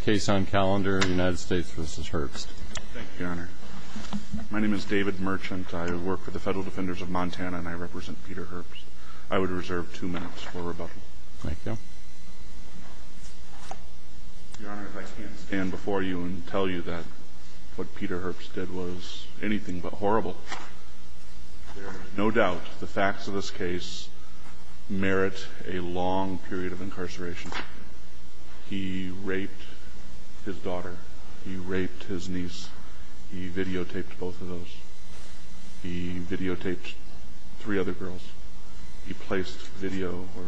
Case on calendar, United States v. Herbst Thank you, Your Honor. My name is David Merchant. I work for the Federal Defenders of Montana and I represent Peter Herbst. I would reserve two minutes for rebuttal. Thank you. Your Honor, if I can't stand before you and tell you that what Peter Herbst did was anything but horrible, there is no doubt the facts of this case merit a long period of incarceration. He raped his daughter. He raped his niece. He videotaped both of those. He videotaped three other girls. He placed video or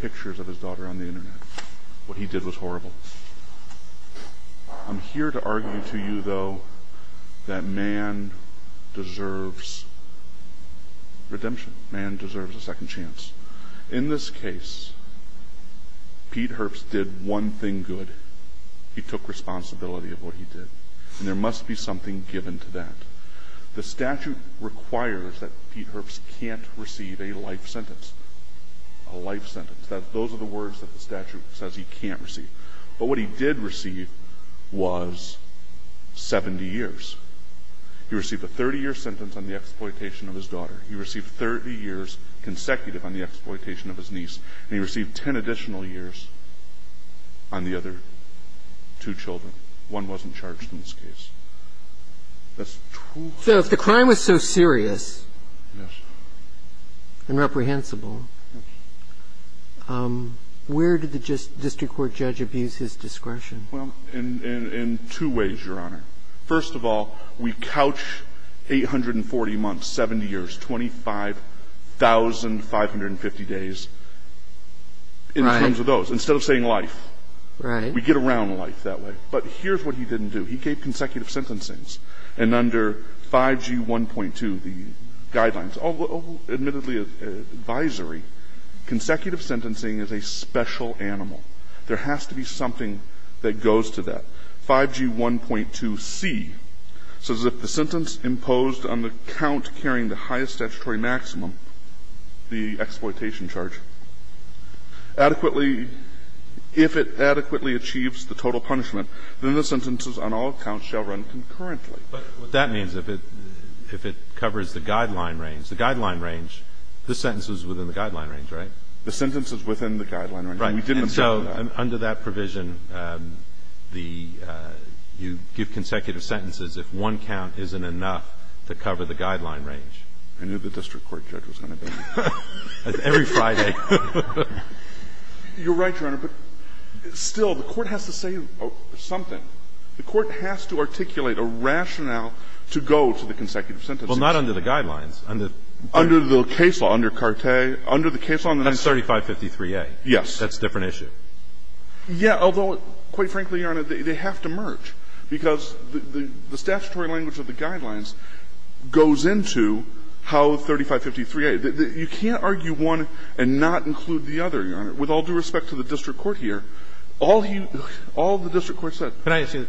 pictures of his daughter on the Internet. What he did was horrible. I'm here to argue to you, though, that man deserves redemption. Man deserves a second chance. In this case, Peter Herbst did one thing good. He took responsibility of what he did. And there must be something given to that. The statute requires that Peter Herbst can't receive a life sentence. A life sentence. Those are the words that the statute says he can't receive. But what he did receive was 70 years. He received a 30-year sentence on the exploitation of his daughter. He received 30 years consecutive on the exploitation of his niece. And he received 10 additional years on the other two children. One wasn't charged in this case. So if the crime was so serious and reprehensible, where did the district court judge abuse his discretion? Well, in two ways, Your Honor. First of all, we couch 840 months, 70 years, 25,550 days in terms of those, instead of saying life. Right. We get around life that way. But here's what he didn't do. He gave consecutive sentencings. And under 5G1.2, the guidelines, admittedly advisory, consecutive sentencing is a special animal. There has to be something that goes to that. 5G1.2c says if the sentence imposed on the count carrying the highest statutory maximum, the exploitation charge, adequately, if it adequately achieves the total punishment, then the sentences on all counts shall run concurrently. But what that means, if it covers the guideline range, the guideline range, the sentence is within the guideline range, right? The sentence is within the guideline range. Right. And so under that provision, the you give consecutive sentences if one count isn't enough to cover the guideline range. I knew the district court judge was going to be here. Every Friday. You're right, Your Honor. But still, the court has to say something. The court has to articulate a rationale to go to the consecutive sentences. Well, not under the guidelines. Under the case law, under Carte, under the case law. That's 3553A. Yes. That's a different issue. Yes. Although, quite frankly, Your Honor, they have to merge. Because the statutory language of the guidelines goes into how 3553A. You can't argue one and not include the other, Your Honor. With all due respect to the district court here, all the district court said. Can I ask you,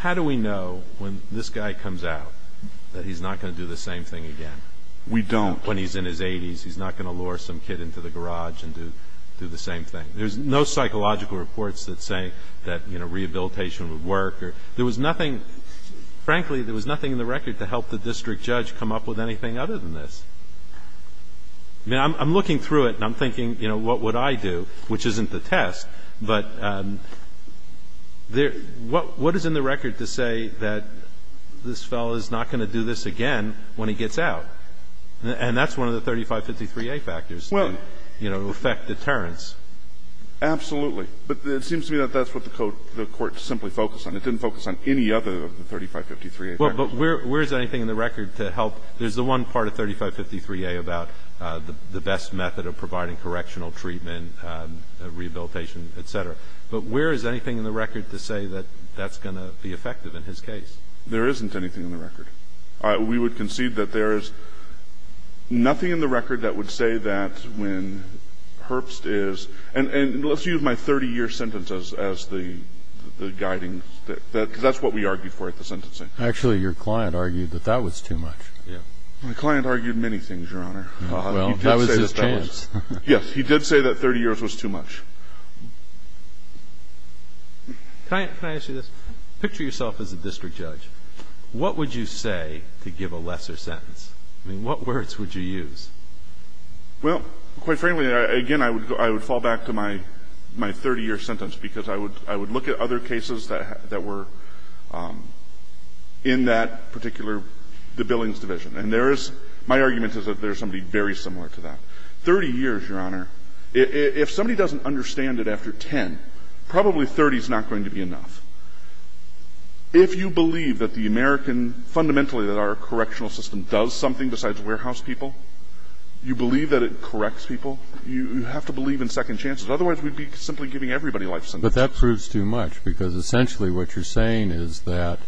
how do we know when this guy comes out that he's not going to do the same thing again? We don't. When he's in his 80s, he's not going to lure some kid into the garage and do the same thing. There's no psychological reports that say that, you know, rehabilitation would work. There was nothing, frankly, there was nothing in the record to help the district judge come up with anything other than this. I mean, I'm looking through it and I'm thinking, you know, what would I do, which isn't the test. But what is in the record to say that this fellow is not going to do this again when he gets out? And that's one of the 3553A factors that, you know, affect deterrence. Absolutely. But it seems to me that that's what the court simply focused on. It didn't focus on any other of the 3553A factors. Well, but where is anything in the record to help? There's the one part of 3553A about the best method of providing correctional treatment, rehabilitation, et cetera. But where is anything in the record to say that that's going to be effective in his case? There isn't anything in the record. We would concede that there is nothing in the record that would say that when Herbst is, and let's use my 30-year sentence as the guiding, because that's what we argued for at the sentencing. Actually, your client argued that that was too much. Yeah. My client argued many things, Your Honor. Well, that was his chance. Yes, he did say that 30 years was too much. Can I ask you this? Picture yourself as a district judge. What would you say to give a lesser sentence? I mean, what words would you use? Well, quite frankly, again, I would fall back to my 30-year sentence, because I would look at other cases that were in that particular, the Billings division. And there is my argument is that there is somebody very similar to that. 30 years, Your Honor, if somebody doesn't understand it after 10, probably 30 is not going to be enough. If you believe that the American, fundamentally that our correctional system does something besides warehouse people, you believe that it corrects people, you have to believe in second chances. Otherwise, we'd be simply giving everybody life sentences. But that proves too much, because essentially what you're saying is that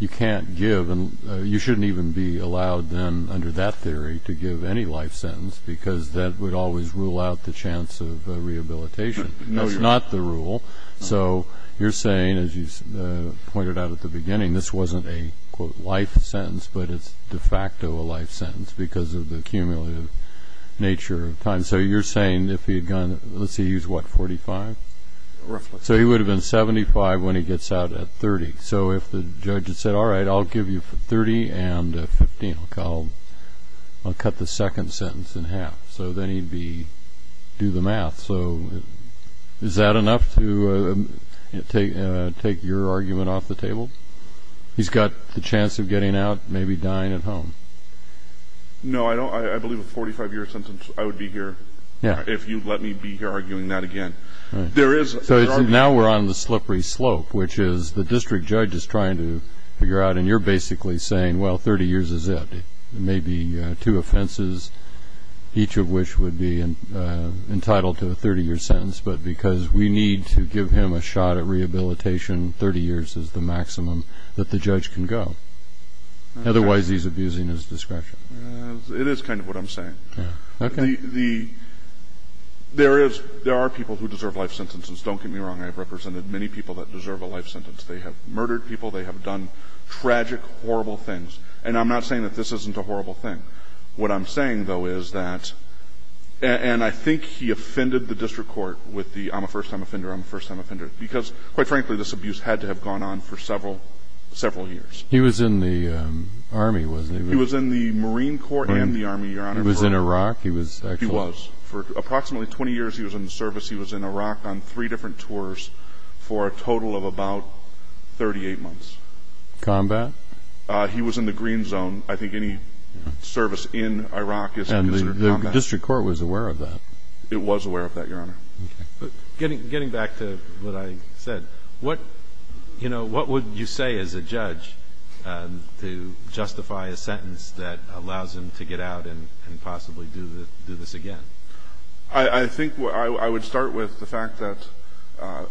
you can't give and you shouldn't even be allowed then under that theory to give any life sentence, because that would always rule out the chance of rehabilitation. No, Your Honor. That's not the rule. So you're saying, as you pointed out at the beginning, this wasn't a, quote, life sentence, but it's de facto a life sentence because of the cumulative nature of time. So you're saying if he had gone, let's see, he was, what, 45? Roughly. So he would have been 75 when he gets out at 30. So if the judge had said, all right, I'll give you 30 and 15, I'll cut the second sentence in half. So then he'd be, do the math. He's got the chance of getting out, maybe dying at home. No, I believe a 45-year sentence, I would be here if you'd let me be here arguing that again. So now we're on the slippery slope, which is the district judge is trying to figure out, and you're basically saying, well, 30 years is it. Maybe two offenses, each of which would be entitled to a 30-year sentence, but because we need to give him a shot at rehabilitation, 30 years is the maximum that the judge can go. Otherwise, he's abusing his discretion. It is kind of what I'm saying. Okay. There are people who deserve life sentences. Don't get me wrong. I've represented many people that deserve a life sentence. They have murdered people. They have done tragic, horrible things. And I'm not saying that this isn't a horrible thing. What I'm saying, though, is that, and I think he offended the district court with the, I'm a first-time for several years. He was in the Army, wasn't he? He was in the Marine Corps and the Army, Your Honor. He was in Iraq? He was. He was. For approximately 20 years, he was in the service. He was in Iraq on three different tours for a total of about 38 months. Combat? He was in the Green Zone. I think any service in Iraq is in combat. And the district court was aware of that? It was aware of that, Your Honor. Getting back to what I said, what would you say as a judge to justify a sentence that allows him to get out and possibly do this again? I think I would start with the fact that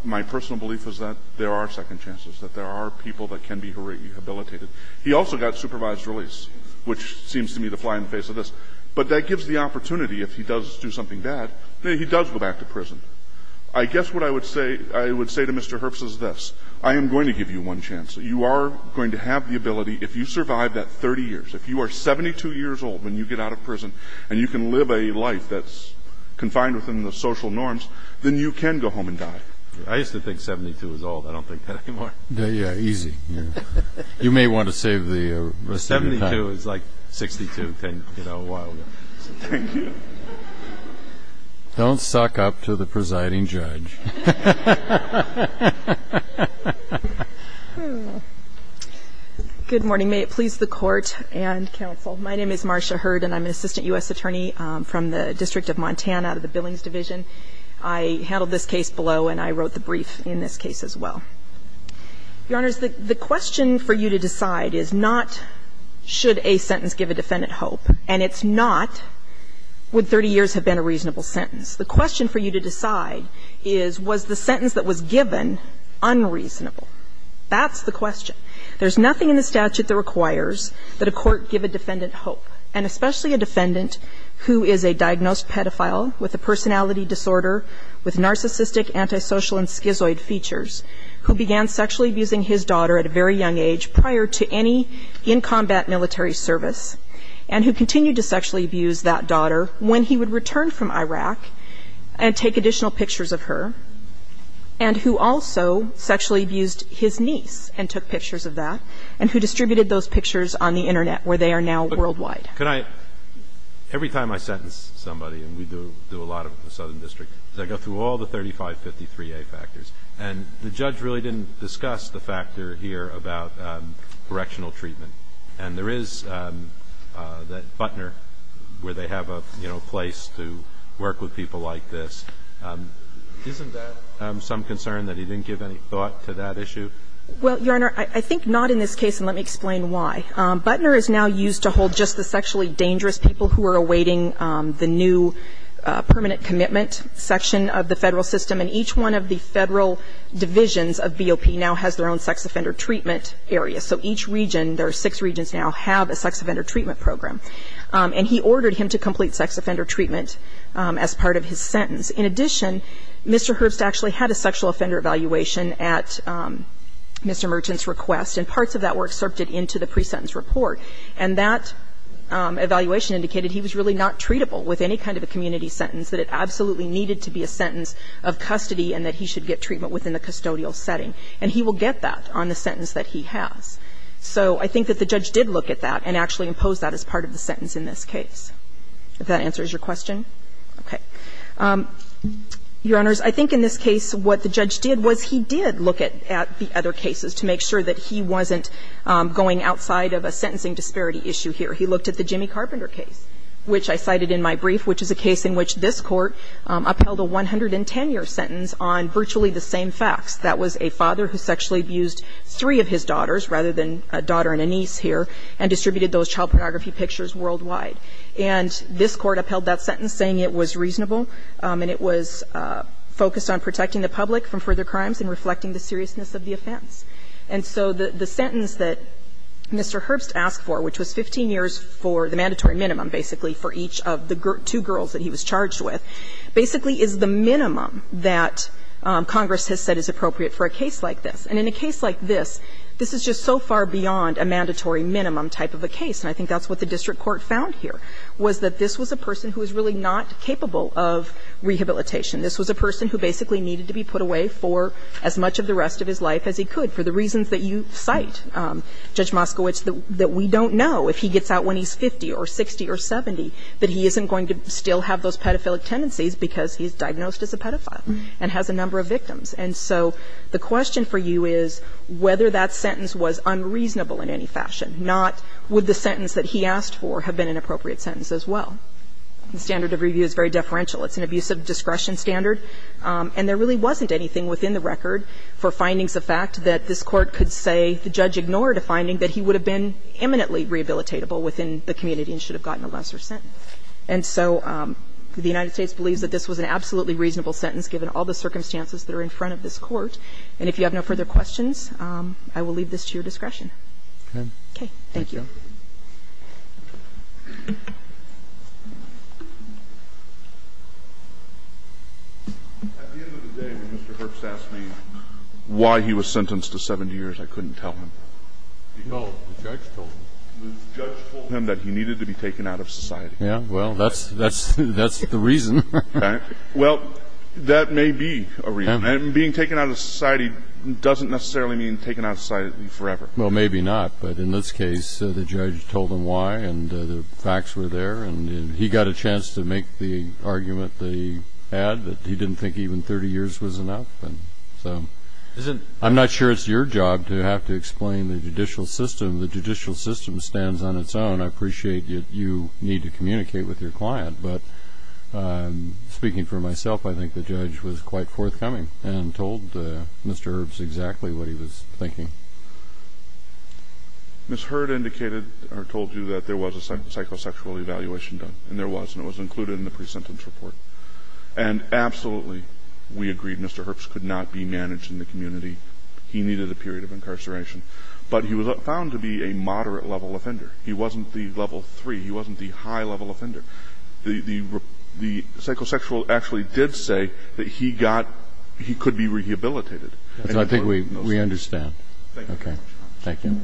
my personal belief is that there are second chances, that there are people that can be rehabilitated. He also got supervised release, which seems to me to fly in the face of this. But that gives the opportunity, if he does do something bad, then he does go back to prison. I guess what I would say to Mr. Herbst is this. I am going to give you one chance. You are going to have the ability, if you survive that 30 years, if you are 72 years old when you get out of prison and you can live a life that's confined within the social norms, then you can go home and die. I used to think 72 was old. I don't think that anymore. Yeah, yeah, easy. You may want to save the rest of your time. Don't suck up to the presiding judge. Good morning. May it please the court and counsel. My name is Marcia Hurd, and I'm an assistant U.S. attorney from the District of Montana, the Billings Division. I handled this case below, and I wrote the brief in this case as well. Your Honors, the question for you to decide is not should he be released or should he be released, but should a sentence give a defendant hope. And it's not would 30 years have been a reasonable sentence. The question for you to decide is was the sentence that was given unreasonable. That's the question. There's nothing in the statute that requires that a court give a defendant hope, and especially a defendant who is a diagnosed pedophile with a personality disorder with narcissistic, antisocial, and schizoid features who began sexually abusing his daughter in the military service and who continued to sexually abuse that daughter when he would return from Iraq and take additional pictures of her, and who also sexually abused his niece and took pictures of that, and who distributed those pictures on the Internet where they are now worldwide. Can I – every time I sentence somebody, and we do a lot of it in the Southern District, is I go through all the 3553A factors, and the judge really didn't discuss the factor here about correctional treatment. And there is that Butner, where they have a, you know, place to work with people like this. Isn't that some concern that he didn't give any thought to that issue? Well, Your Honor, I think not in this case, and let me explain why. Butner is now used to hold just the sexually dangerous people who are awaiting the new permanent commitment section of the Federal system, and each one of the Federal divisions of BOP now has their own sex offender treatment area. So each region, there are six regions now, have a sex offender treatment program. And he ordered him to complete sex offender treatment as part of his sentence. In addition, Mr. Herbst actually had a sexual offender evaluation at Mr. Merchant's request, and parts of that were excerpted into the pre-sentence report. And that evaluation indicated he was really not treatable with any kind of a community sentence, that it absolutely needed to be in the sentence of custody and that he should get treatment within the custodial setting. And he will get that on the sentence that he has. So I think that the judge did look at that and actually impose that as part of the sentence in this case. If that answers your question? Okay. Your Honors, I think in this case what the judge did was he did look at the other cases to make sure that he wasn't going outside of a sentencing disparity issue here. He looked at the Jimmy Carpenter case, which I cited in my brief, which is a case in which this Court upheld a 110-year sentence on virtually the same facts. That was a father who sexually abused three of his daughters, rather than a daughter and a niece here, and distributed those child pornography pictures worldwide. And this Court upheld that sentence, saying it was reasonable and it was focused on protecting the public from further crimes and reflecting the seriousness of the offense. And so the sentence that Mr. Herbst asked for, which was 15 years for the mandatory minimum, basically, for each of the two girls that he was charged with, basically is the minimum that Congress has said is appropriate for a case like this. And in a case like this, this is just so far beyond a mandatory minimum type of a case. And I think that's what the district court found here, was that this was a person who was really not capable of rehabilitation. This was a person who basically needed to be put away for as much of the rest of his life as he could, for the reasons that you cite, Judge Moskowitz, that we don't know if he gets out when he's 50 or 60 or 70, that he isn't going to still have those pedophilic tendencies because he's diagnosed as a pedophile and has a number of victims. And so the question for you is whether that sentence was unreasonable in any fashion, not would the sentence that he asked for have been an appropriate sentence as well. The standard of review is very deferential. It's an abuse of discretion standard. And there really wasn't anything within the record for findings of fact that this could have been eminently rehabilitatable within the community and should have gotten a lesser sentence. And so the United States believes that this was an absolutely reasonable sentence given all the circumstances that are in front of this Court. And if you have no further questions, I will leave this to your discretion. Okay. Thank you. At the end of the day, when Mr. Herbst asked me why he was sentenced to 70 years, I couldn't tell him. No. The judge told him. The judge told him that he needed to be taken out of society. Yes. Well, that's the reason. Okay. Well, that may be a reason. And being taken out of society doesn't necessarily mean taken out of society Well, maybe not. But in this case, it's a reasonable sentence. The judge told him why, and the facts were there. And he got a chance to make the argument that he had, that he didn't think even 30 years was enough. And so I'm not sure it's your job to have to explain the judicial system. The judicial system stands on its own. I appreciate that you need to communicate with your client. But speaking for myself, I think the judge was quite forthcoming and told Mr. Herbst exactly what he was thinking. Ms. Hurd indicated or told you that there was a psychosexual evaluation done. And there was, and it was included in the pre-sentence report. And absolutely, we agreed Mr. Herbst could not be managed in the community. He needed a period of incarceration. But he was found to be a moderate-level offender. He wasn't the level three. He wasn't the high-level offender. The psychosexual actually did say that he got, he could be rehabilitated. So I think we understand. Thank you very much. Thank you.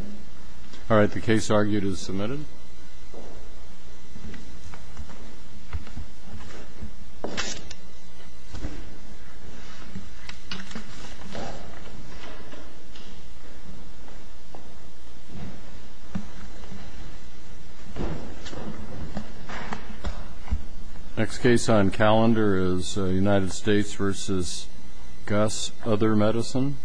All right. The case argued is submitted. Next case on calendar is United States v. Gus, Other Medicine.